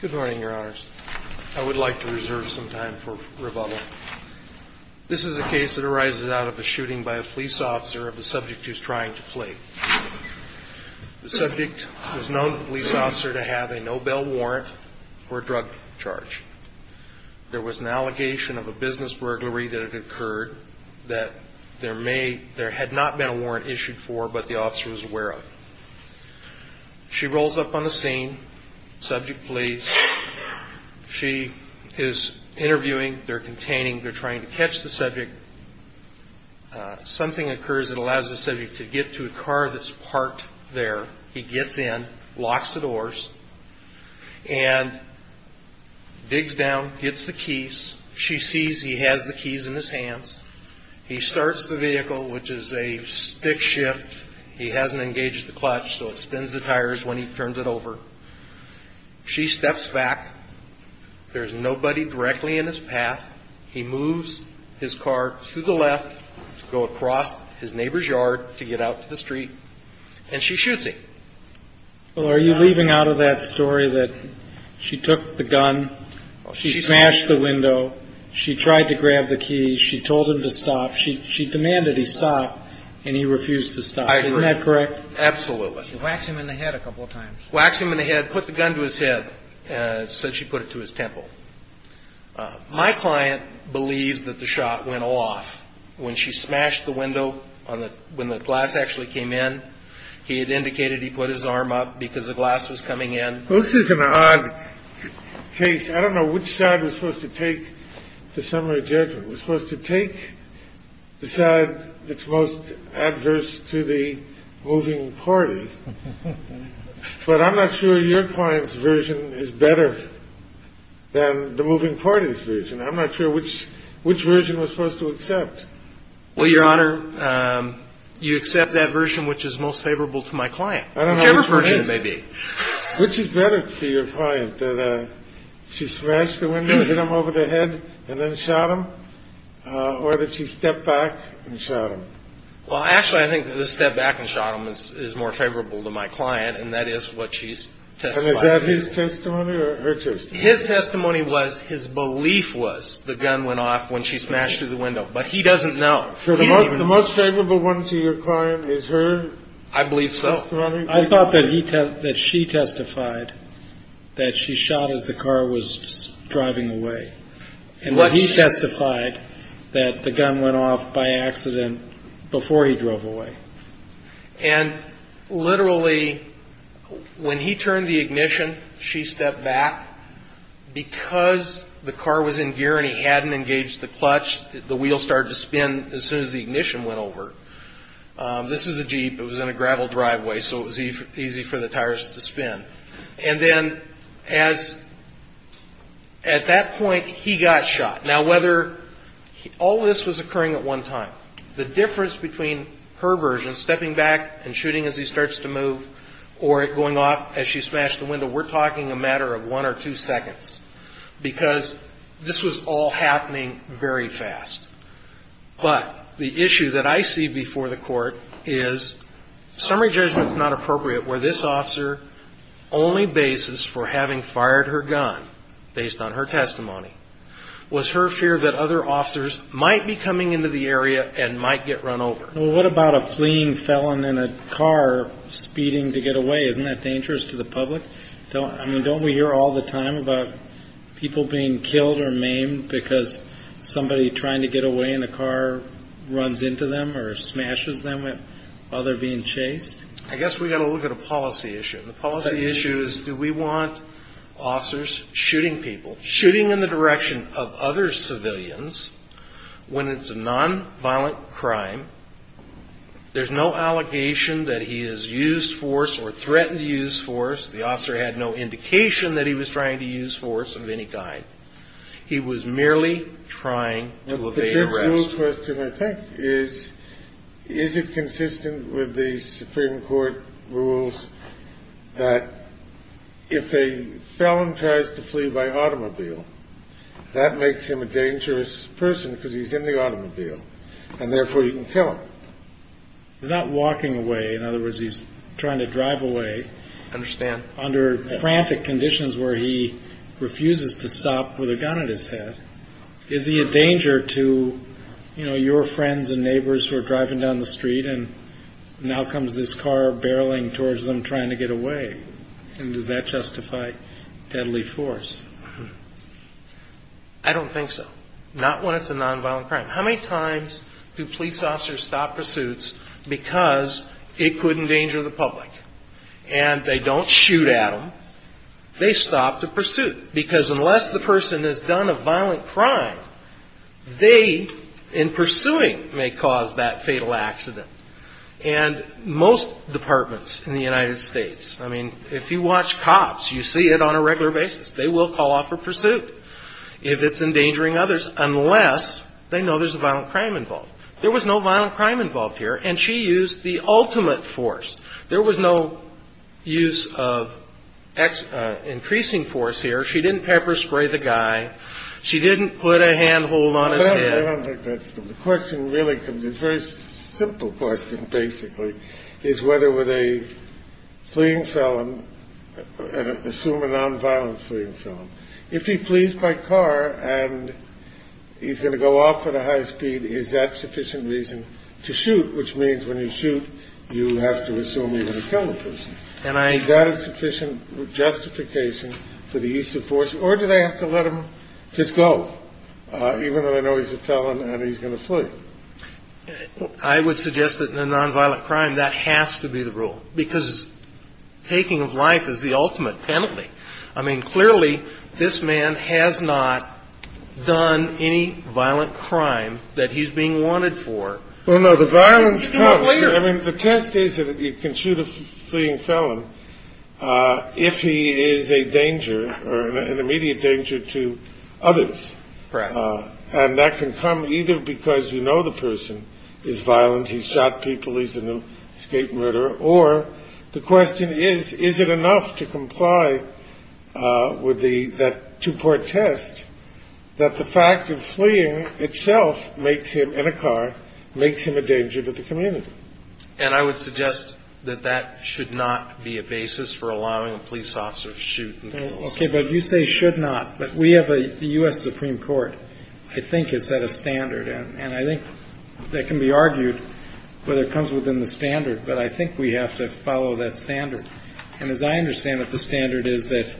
Good morning, Your Honors. I would like to reserve some time for rebuttal. This is a case that arises out of a shooting by a police officer of the subject who is trying to flee. The subject was known to the police officer to have a Nobel warrant for a drug charge. There was an allegation of a business burglary that had occurred that there had not been a warrant issued for, but the officer was aware of. She rolls up on the scene. Subject flees. She is interviewing. They're containing. They're trying to catch the subject. Something occurs that allows the subject to get to a car that's parked there. He gets in, locks the doors, and digs down, gets the keys. She sees he has the keys in his hands. He starts the vehicle, which is a stick shift. He hasn't engaged the clutch, so it spins the tires when he turns it over. She steps back. There's nobody directly in his path. He moves his car to the left to go across his neighbor's yard to get out to the street, and she shoots him. Well, are you leaving out of that story that she took the gun, she smashed the window, she tried to grab the key, she told him to stop, she demanded he stop, and he refused to stop. I agree. Isn't that correct? Absolutely. She whacked him in the head a couple of times. Whacked him in the head, put the gun to his head, said she put it to his temple. My client believes that the shot went off when she smashed the window when the glass actually came in. He had indicated he put his arm up because the glass was coming in. This is an odd case. I don't know which side was supposed to take the summary judgment. It was supposed to take the side that's most adverse to the moving party. But I'm not sure your client's version is better than the moving party's version. I'm not sure which which version was supposed to accept. Well, Your Honor, you accept that version, which is most favorable to my client. Whichever version it may be. Which is better for your client? That she smashed the window, hit him over the head and then shot him? Or did she step back and shot him? Well, actually, I think the step back and shot him is more favorable to my client. And that is what she's testifying to. And is that his testimony or her testimony? His testimony was his belief was the gun went off when she smashed through the window. But he doesn't know. So the most favorable one to your client is her testimony? I believe so. I thought that he that she testified that she shot as the car was driving away. And what he testified that the gun went off by accident before he drove away. And literally when he turned the ignition, she stepped back because the car was in gear and he hadn't engaged the clutch. The wheel started to spin as soon as the ignition went over. This is a Jeep. It was in a gravel driveway. So it was easy for the tires to spin. And then as at that point, he got shot. Now, whether all this was occurring at one time, the difference between her version, stepping back and shooting as he starts to move or going off as she smashed the window, we're talking a matter of one or two seconds because this was all happening very fast. But the issue that I see before the court is summary judgment is not appropriate where this officer only basis for having fired her gun based on her testimony was her fear that other officers might be coming into the area and might get run over. What about a fleeing felon in a car speeding to get away? Isn't that dangerous to the public? I mean, don't we hear all the time about people being killed or maimed because somebody trying to get away in the car runs into them or smashes them while they're being chased? I guess we got to look at a policy issue. The policy issue is do we want officers shooting people, shooting in the direction of other civilians when it's a nonviolent crime? There's no allegation that he has used force or threatened to use force. The officer had no indication that he was trying to use force of any kind. He was merely trying to evade arrest. Question I think is, is it consistent with the Supreme Court rules that if a felon tries to flee by automobile, that makes him a dangerous person because he's in the automobile and therefore you can kill him. He's not walking away. In other words, he's trying to drive away. I understand. Under frantic conditions where he refuses to stop with a gun at his head, is he a danger to your friends and neighbors who are driving down the street? And now comes this car barreling towards them trying to get away. And does that justify deadly force? I don't think so. Not when it's a nonviolent crime. How many times do police officers stop pursuits because it could endanger the public? And they don't shoot at them, they stop the pursuit. Because unless the person has done a violent crime, they in pursuing may cause that fatal accident. And most departments in the United States, I mean, if you watch cops, you see it on a regular basis. They will call off a pursuit if it's endangering others, unless they know there's a violent crime involved. There was no violent crime involved here. And she used the ultimate force. There was no use of increasing force here. She didn't pepper spray the guy. She didn't put a handhold on his head. I don't think that's the question. Really, the first simple question basically is whether with a fleeing felon, assume a nonviolent fleeing from if he flees by car and he's going to go off at a high speed. Is that sufficient reason to shoot? Which means when you shoot, you have to assume you're going to kill a person. And I got a sufficient justification for the use of force. Or do they have to let him just go, even though they know he's a felon and he's going to flee? I would suggest that in a nonviolent crime, that has to be the rule, because taking of life is the ultimate penalty. I mean, clearly, this man has not done any violent crime that he's being wanted for. Well, no, the violence. I mean, the test is that you can shoot a fleeing felon if he is a danger. Or an immediate danger to others. And that can come either because, you know, the person is violent. He shot people. He's an escape murder. Or the question is, is it enough to comply with the two part test that the fact of fleeing itself makes him in a car, makes him a danger to the community? And I would suggest that that should not be a basis for allowing a police officer to shoot and kill a person. OK, but you say should not. But we have the U.S. Supreme Court, I think, has set a standard. And I think that can be argued whether it comes within the standard. But I think we have to follow that standard. And as I understand it, the standard is that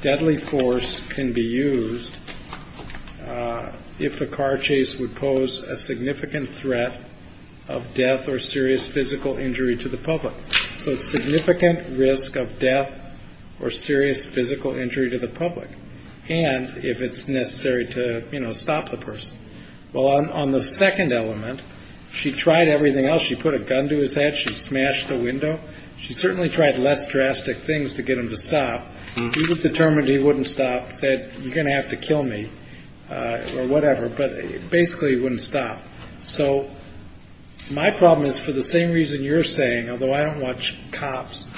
deadly force can be used if a car chase would pose a significant threat of death or serious physical injury to the public. So significant risk of death or serious physical injury to the public. And if it's necessary to stop the person. Well, on the second element, she tried everything else. She put a gun to his head. She smashed the window. She certainly tried less drastic things to get him to stop. He was determined he wouldn't stop, said you're going to have to kill me or whatever. But basically, he wouldn't stop. So my problem is for the same reason you're saying, although I don't watch cops,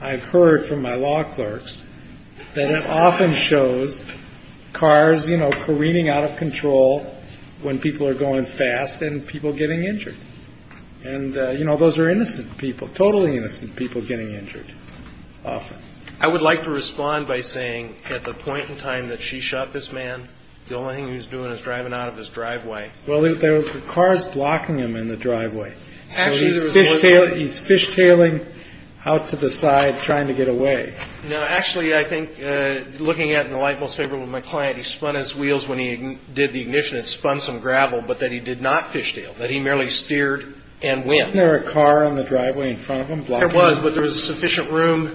I've heard from my law clerks that it often shows cars careening out of control when people are going fast and people getting injured. And, you know, those are innocent people, totally innocent people getting injured. Often, I would like to respond by saying at the point in time that she shot this man, the only thing he was doing is driving out of his driveway. Well, there were cars blocking him in the driveway. Actually, he's fishtailing out to the side trying to get away. Now, actually, I think looking at the light most favorable with my client, he spun his wheels when he did the ignition and spun some gravel. But that he did not fishtail, that he merely steered and when there are a car on the driveway in front of him, it was. But there was sufficient room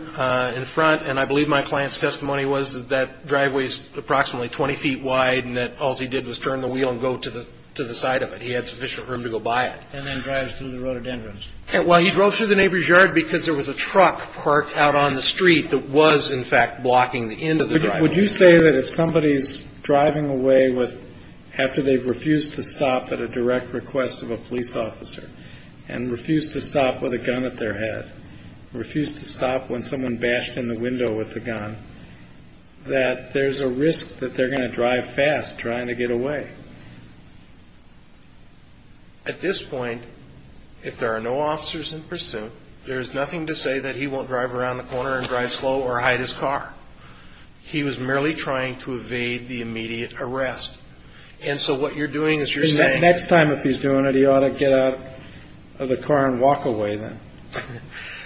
in front. And I believe my client's testimony was that driveways approximately 20 feet wide. And that all he did was turn the wheel and go to the to the side of it. He had sufficient room to go by it. And then drives through the road entrance. Well, he drove through the neighbor's yard because there was a truck parked out on the street that was, in fact, blocking the end of the. Would you say that if somebody is driving away with after they've refused to stop at a direct request of a police officer and refuse to stop with a gun at their head, refuse to stop when someone bashed in the window with the gun, that there's a risk that they're going to drive fast trying to get away? At this point, if there are no officers in pursuit, there is nothing to say that he won't drive around the corner and drive slow or hide his car. He was merely trying to evade the immediate arrest. And so what you're doing is you're saying next time if he's doing it, he ought to get out of the car and walk away. Then.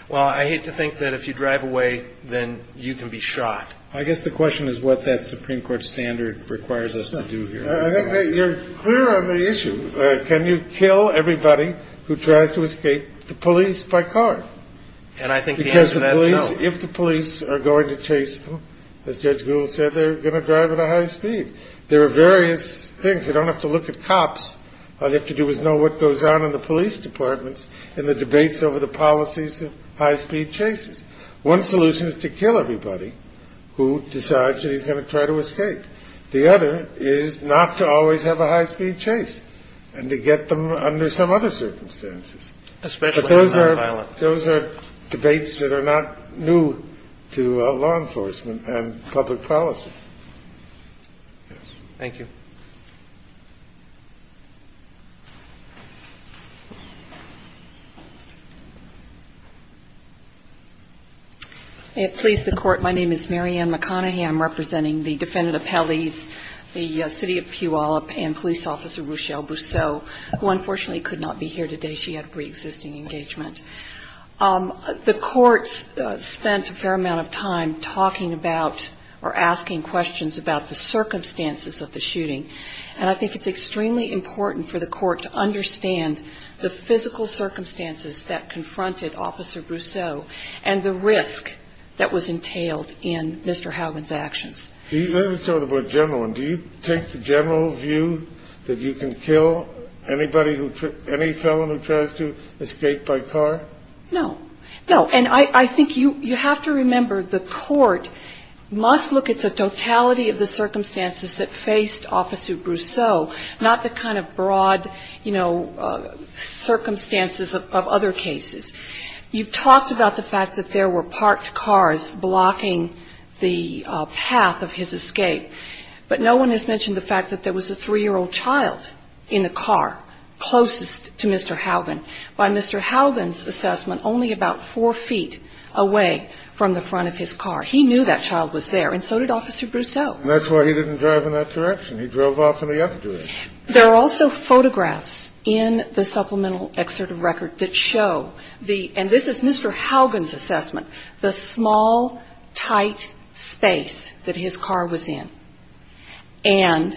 Well, I hate to think that if you drive away, then you can be shot. I guess the question is what that Supreme Court standard requires us to do here. I think you're clear on the issue. Can you kill everybody who tries to escape the police by car? And I think because if the police are going to chase them, as Judge Gould said, they're going to drive at a high speed. There are various things. You don't have to look at cops. All you have to do is know what goes on in the police departments and the debates over the policies of high speed chases. One solution is to kill everybody who decides that he's going to try to escape. The other is not to always have a high speed chase and to get them under some other circumstances, especially those are violent. Those are debates that are not new to law enforcement and public policy. Thank you. It pleased the court. My name is Marianne McConaughey. I'm representing the defendant appellees, the city of Puyallup and police officer Rochelle Brousseau, who unfortunately could not be here today. She had a pre-existing engagement. The court spent a fair amount of time talking about or asking questions about the circumstances of the shooting. And I think it's extremely important for the court to understand the physical circumstances that confronted Officer Brousseau and the risk that was entailed in Mr. General. And do you take the general view that you can kill anybody who any felon who tries to escape by car? No, no. And I think you have to remember, the court must look at the totality of the circumstances that faced Officer Brousseau, not the kind of broad, you know, circumstances of other cases. You've talked about the fact that there were parked cars blocking the path of his escape. But no one has mentioned the fact that there was a three-year-old child in the car closest to Mr. Haugen by Mr. Haugen's assessment, only about four feet away from the front of his car. He knew that child was there. And so did Officer Brousseau. And that's why he didn't drive in that direction. He drove off in the other direction. There are also photographs in the supplemental excerpt of record that show the, and this is Mr. Haugen's assessment, the small, tight space that his car was in. And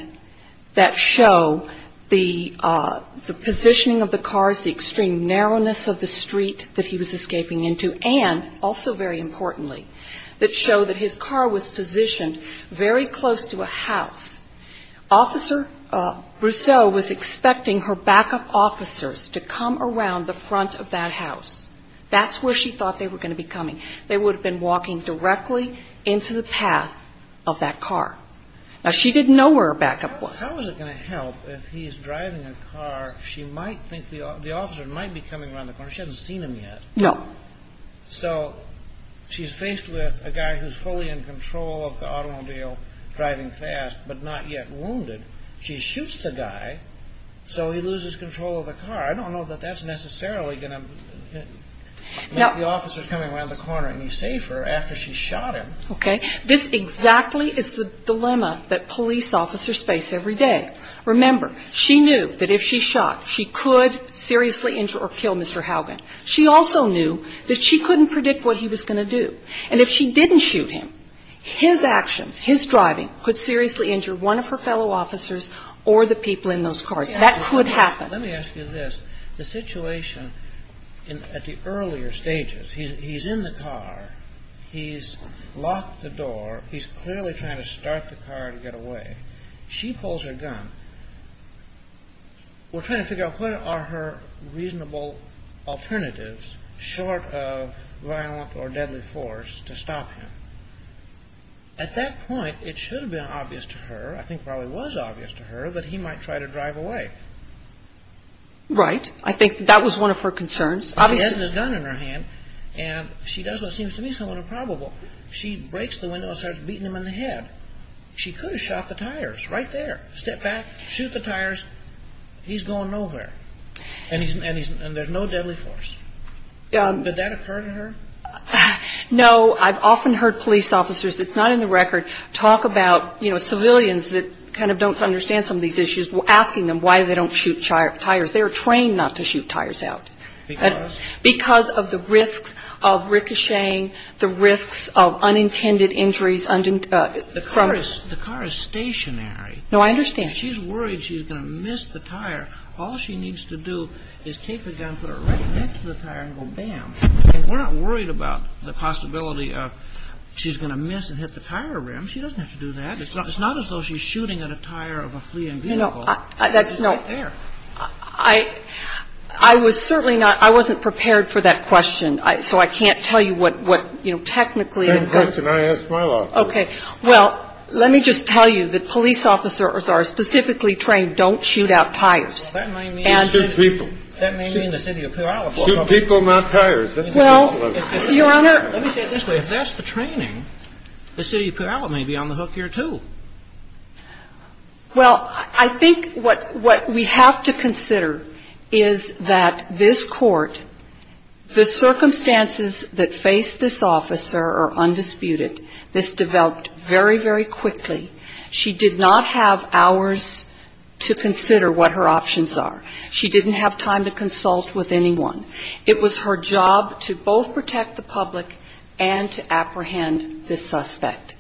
that show the positioning of the cars, the extreme narrowness of the street that he was escaping into. And also, very importantly, that show that his car was positioned very close to a house. Officer Brousseau was expecting her backup officers to come around the front of that house. That's where she thought they were going to be coming. They would have been walking directly into the path of that car. Now, she didn't know where her backup was. How is it going to help if he's driving a car, she might think the officer might be coming around the corner. She hasn't seen him yet. No. So she's faced with a guy who's fully in control of the automobile, driving fast, but not yet wounded. She shoots the guy. So he loses control of the car. I don't know that that's necessarily going to make the officers coming around the corner any safer after she shot him. OK, this exactly is the dilemma that police officers face every day. Remember, she knew that if she shot, she could seriously injure or kill Mr. Haugen. She also knew that she couldn't predict what he was going to do. And if she didn't shoot him, his actions, his driving could seriously injure one of her fellow officers or the people in those cars. That could happen. Let me ask you this. The situation at the earlier stages, he's in the car, he's locked the door, he's clearly trying to start the car to get away. She pulls her gun. We're trying to figure out what are her reasonable alternatives short of violent or deadly force to stop him. At that point, it should have been obvious to her, I think probably was obvious to her, that he might try to drive away. Right. I think that was one of her concerns. She has a gun in her hand and she does what seems to be somewhat improbable. She breaks the window and starts beating him in the head. She could have shot the tires right there, step back, shoot the tires. He's going nowhere and there's no deadly force. Did that occur to her? No, I've often heard police officers, it's not in the record, talk about civilians that kind of don't understand some of these issues. Asking them why they don't shoot tires. They're trained not to shoot tires out because of the risks of ricocheting, the risks of unintended injuries. The car is stationary. No, I understand. She's worried she's going to miss the tire. All she needs to do is take the gun, put it right next to the tire and go, bam. We're not worried about the possibility of she's going to miss and hit the tire rim. She doesn't have to do that. It's not as though she's shooting at a tire of a fleeing vehicle. I was certainly not, I wasn't prepared for that question. So I can't tell you what, what, you know, technically. OK, well, let me just tell you that police officers are specifically trained. Don't shoot out tires. That may mean the City of Puyallup will shoot people, not tires. Well, Your Honor, let me say it this way. If that's the training, the City of Puyallup may be on the hook here, too. Well, I think what we have to consider is that this court, the circumstances that faced this officer are undisputed. This developed very, very quickly. She did not have hours to consider what her options are. She didn't have time to consult with anyone. It was her job to both protect the public and to apprehend the suspect.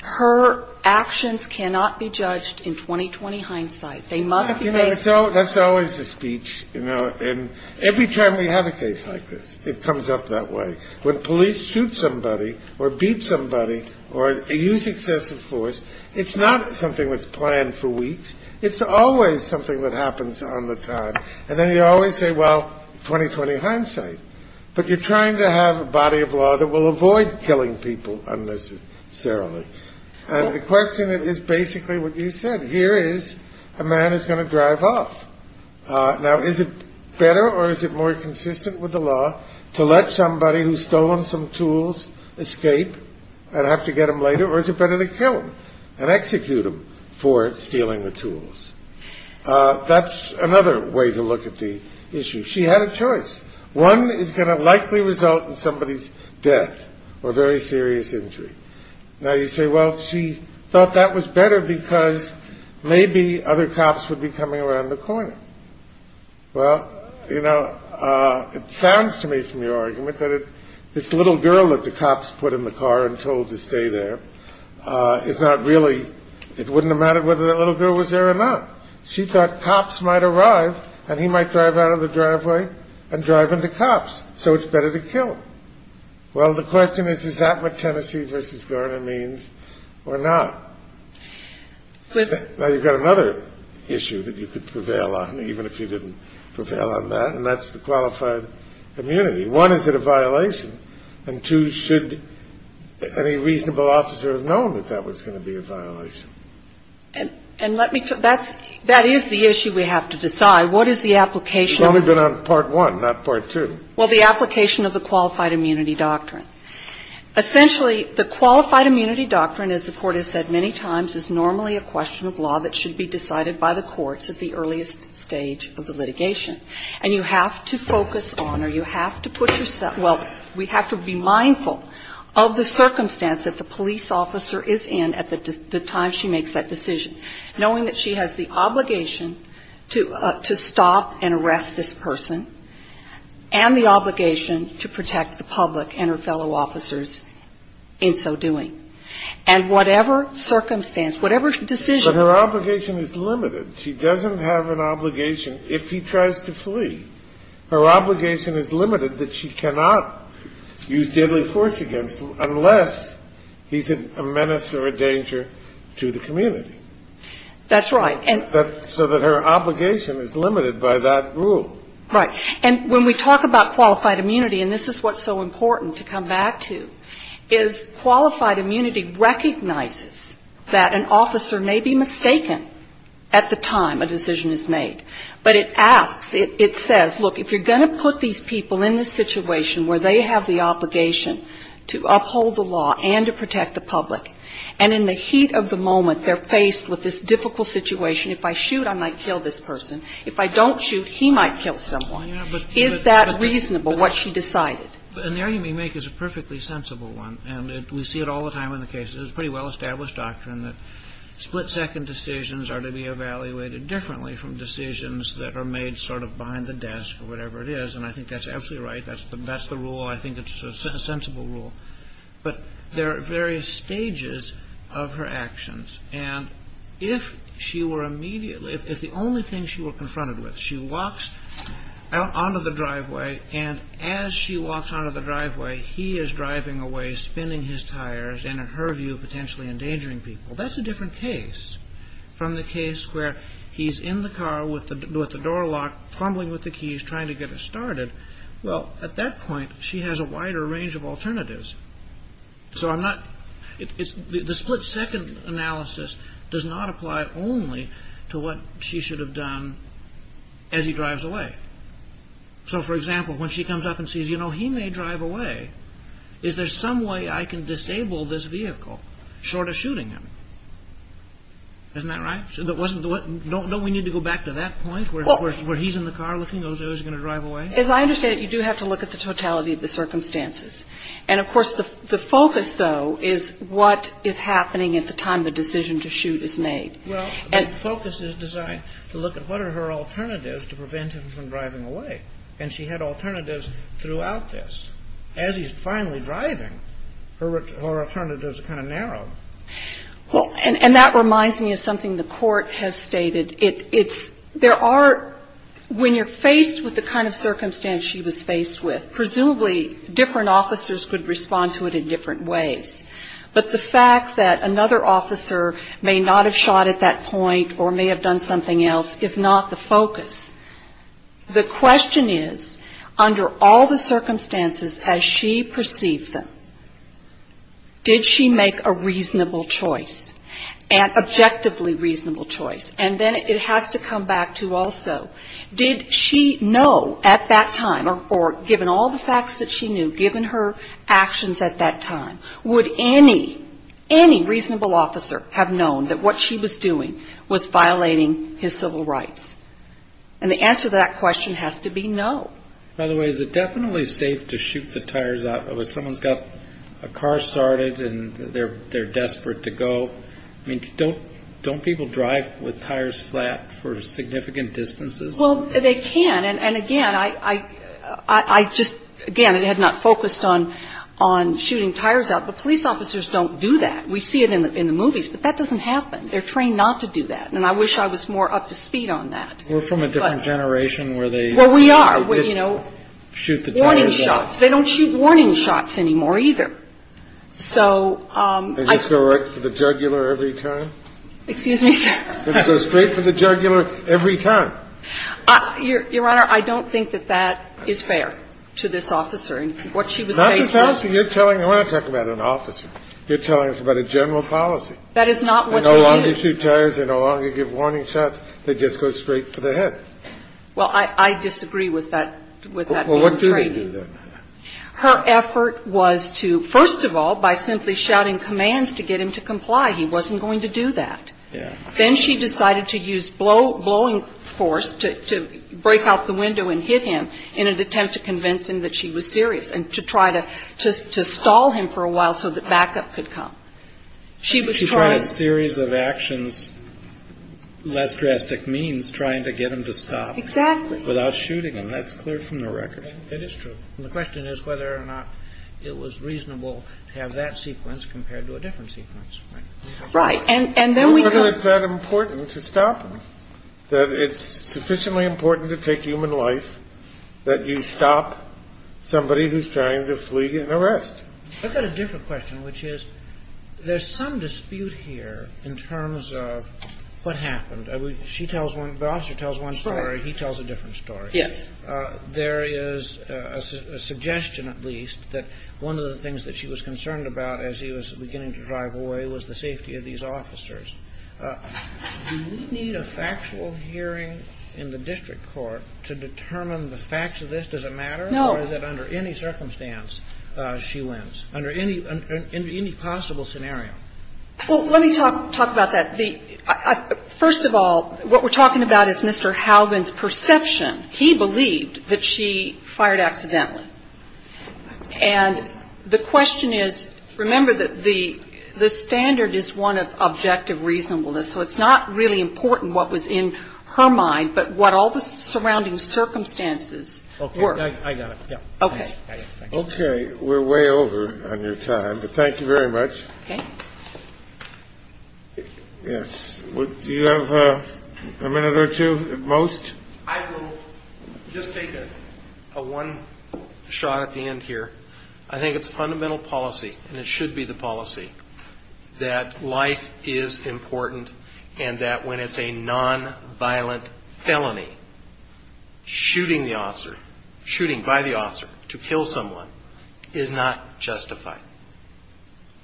Her actions cannot be judged in 20, 20 hindsight. They must be. You know, that's always a speech, you know, and every time we have a case like this, it comes up that way. When police shoot somebody or beat somebody or use excessive force, it's not something that's planned for weeks. It's always something that happens on the time. And then you always say, well, 20, 20 hindsight. But you're trying to have a body of law that will avoid killing people unnecessarily. And the question is basically what you said. Here is a man who's going to drive off. Now, is it better or is it more consistent with the law to let somebody who's stolen some tools escape and have to get them later? Or is it better to kill and execute him for stealing the tools? That's another way to look at the issue. She had a choice. One is going to likely result in somebody's death or very serious injury. Now, you say, well, she thought that was better because maybe other cops would be coming around the corner. Well, you know, it sounds to me from your argument that this little girl that the cops put in the car and told to stay there is not really. It wouldn't have mattered whether that little girl was there or not. She thought cops might arrive and he might drive out of the driveway and drive into cops. So it's better to kill. Well, the question is, is that what Tennessee versus Gardner means or not? Now, you've got another issue that you could prevail on, even if you didn't prevail on that. And that's the qualified immunity. One, is it a violation? And two, should any reasonable officer have known that that was going to be a violation? And and let me that's that is the issue we have to decide. What is the application? Well, we've been on part one, not part two. Well, the application of the qualified immunity doctrine. Essentially, the qualified immunity doctrine, as the court has said many times, is normally a question of law that should be decided by the courts at the earliest stage of the litigation. And you have to focus on or you have to put yourself. Well, we have to be mindful of the circumstance that the police officer is in at the time she makes that decision, knowing that she has the obligation to to stop and arrest this person and the obligation to protect the public and her fellow officers in so doing. And whatever circumstance, whatever decision. Her obligation is limited. She doesn't have an obligation. If he tries to flee, her obligation is limited that she cannot use deadly force against him unless he's a menace or a danger to the community. That's right. And so that her obligation is limited by that rule. Right. And when we talk about qualified immunity, and this is what's so important to come back to, is qualified immunity recognizes that an officer may be mistaken at the time a decision is made. But it asks, it says, look, if you're going to put these people in the situation where they have the obligation to uphold the law and to protect the public, and in the heat of the moment, they're faced with this difficult situation. If I shoot, I might kill this person. If I don't shoot, he might kill someone. Is that reasonable, what she decided? And the argument you make is a perfectly sensible one. And we see it all the time in the case is pretty well established doctrine that split second decisions are to be evaluated differently from decisions that are made sort of behind the desk or whatever it is. And I think that's absolutely right. That's the best the rule. I think it's a sensible rule. But there are various stages of her actions. And if she were immediately, if the only thing she were confronted with, she walks out onto the driveway and as she walks out of the driveway, he is driving away, spinning his tires. And in her view, potentially endangering people. That's a different case from the case where he's in the car with the door locked, fumbling with the keys, trying to get it started. Well, at that point, she has a wider range of alternatives. So I'm not it's the split second analysis does not apply only to what she should have done as he drives away. So, for example, when she comes up and sees, you know, he may drive away. Is there some way I can disable this vehicle short of shooting him? Isn't that right? So that wasn't what we need to go back to that point where he's in the car looking, he's going to drive away. As I understand it, you do have to look at the totality of the circumstances. And, of course, the focus, though, is what is happening at the time the decision to shoot is made. Well, the focus is designed to look at what are her alternatives to prevent him from driving away. And she had alternatives throughout this. As he's finally driving, her alternatives are kind of narrow. Well, and that reminds me of something the court has stated. It's there are when you're faced with the kind of circumstance she was faced with. Presumably different officers could respond to it in different ways. But the fact that another officer may not have shot at that point or may have done something else is not the focus. The question is, under all the circumstances, as she perceived them. Did she make a reasonable choice and objectively reasonable choice? And then it has to come back to also, did she know at that time or given all the facts that she knew, given her actions at that time, would any, any reasonable officer have known that what she was doing was violating his civil rights? And the answer to that question has to be no. By the way, is it definitely safe to shoot the tires out when someone's got a car started and they're desperate to go? I mean, don't don't people drive with tires flat for significant distances? Well, they can. And again, I, I just again, it had not focused on on shooting tires out. But police officers don't do that. We see it in the movies. But that doesn't happen. They're trained not to do that. And I wish I was more up to speed on that. We're from a different generation where they. Well, we are where, you know, shoot the warning shots. They don't shoot warning shots anymore, either. So I just go right to the jugular every time, excuse me, go straight for the jugular every time. Your Honor, I don't think that that is fair to this officer. And what she was not just asking, you're telling I want to talk about an officer. You're telling us about a general policy. That is not what they no longer shoot tires. They no longer give warning shots. They just go straight for the head. Well, I disagree with that, with that. Well, what do they do? Her effort was to, first of all, by simply shouting commands to get him to comply. He wasn't going to do that. Then she decided to use blow blowing force to break out the window and hit him in an attempt to convince him that she was serious and to try to stall him for a while so that backup could come. She was trying a series of actions, less drastic means trying to get him to stop without shooting him. That's clear from the record. It is true. The question is whether or not it was reasonable to have that sequence compared to a different sequence. Right. And then we know it's that important to stop that. It's sufficiently important to take human life that you stop somebody who's trying to flee an arrest. I've got a different question, which is there's some dispute here in terms of what happened. She tells one boss or tells one story. He tells a different story. Yes. There is a suggestion, at least, that one of the things that she was concerned about as he was beginning to drive away was the safety of these officers. Do we need a factual hearing in the district court to determine the facts of this? Does it matter that under any circumstance she wins under any in any possible scenario? Well, let me talk talk about that. The first of all, what we're talking about is Mr. Halvan's perception. He believed that she fired accidentally. And the question is, remember that the the standard is one of objective reasonableness. So it's not really important what was in her mind, but what all the surrounding circumstances were. I got it. OK. OK. We're way over on your time. But thank you very much. OK. Yes. Do you have a minute or two at most? I will just take a one shot at the end here. I think it's fundamental policy and it should be the policy that life is important and that when it's a nonviolent felony, shooting the officer, shooting by the officer to kill someone is not justified.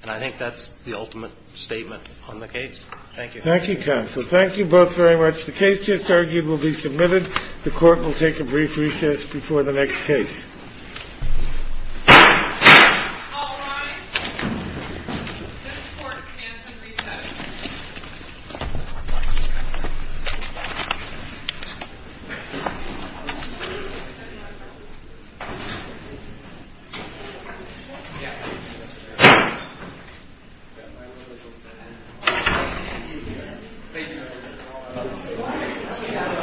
And I think that's the ultimate statement on the case. Thank you. Thank you, counsel. Thank you both very much. The case just argued will be submitted. The court will take a brief recess before the next case. Thank you.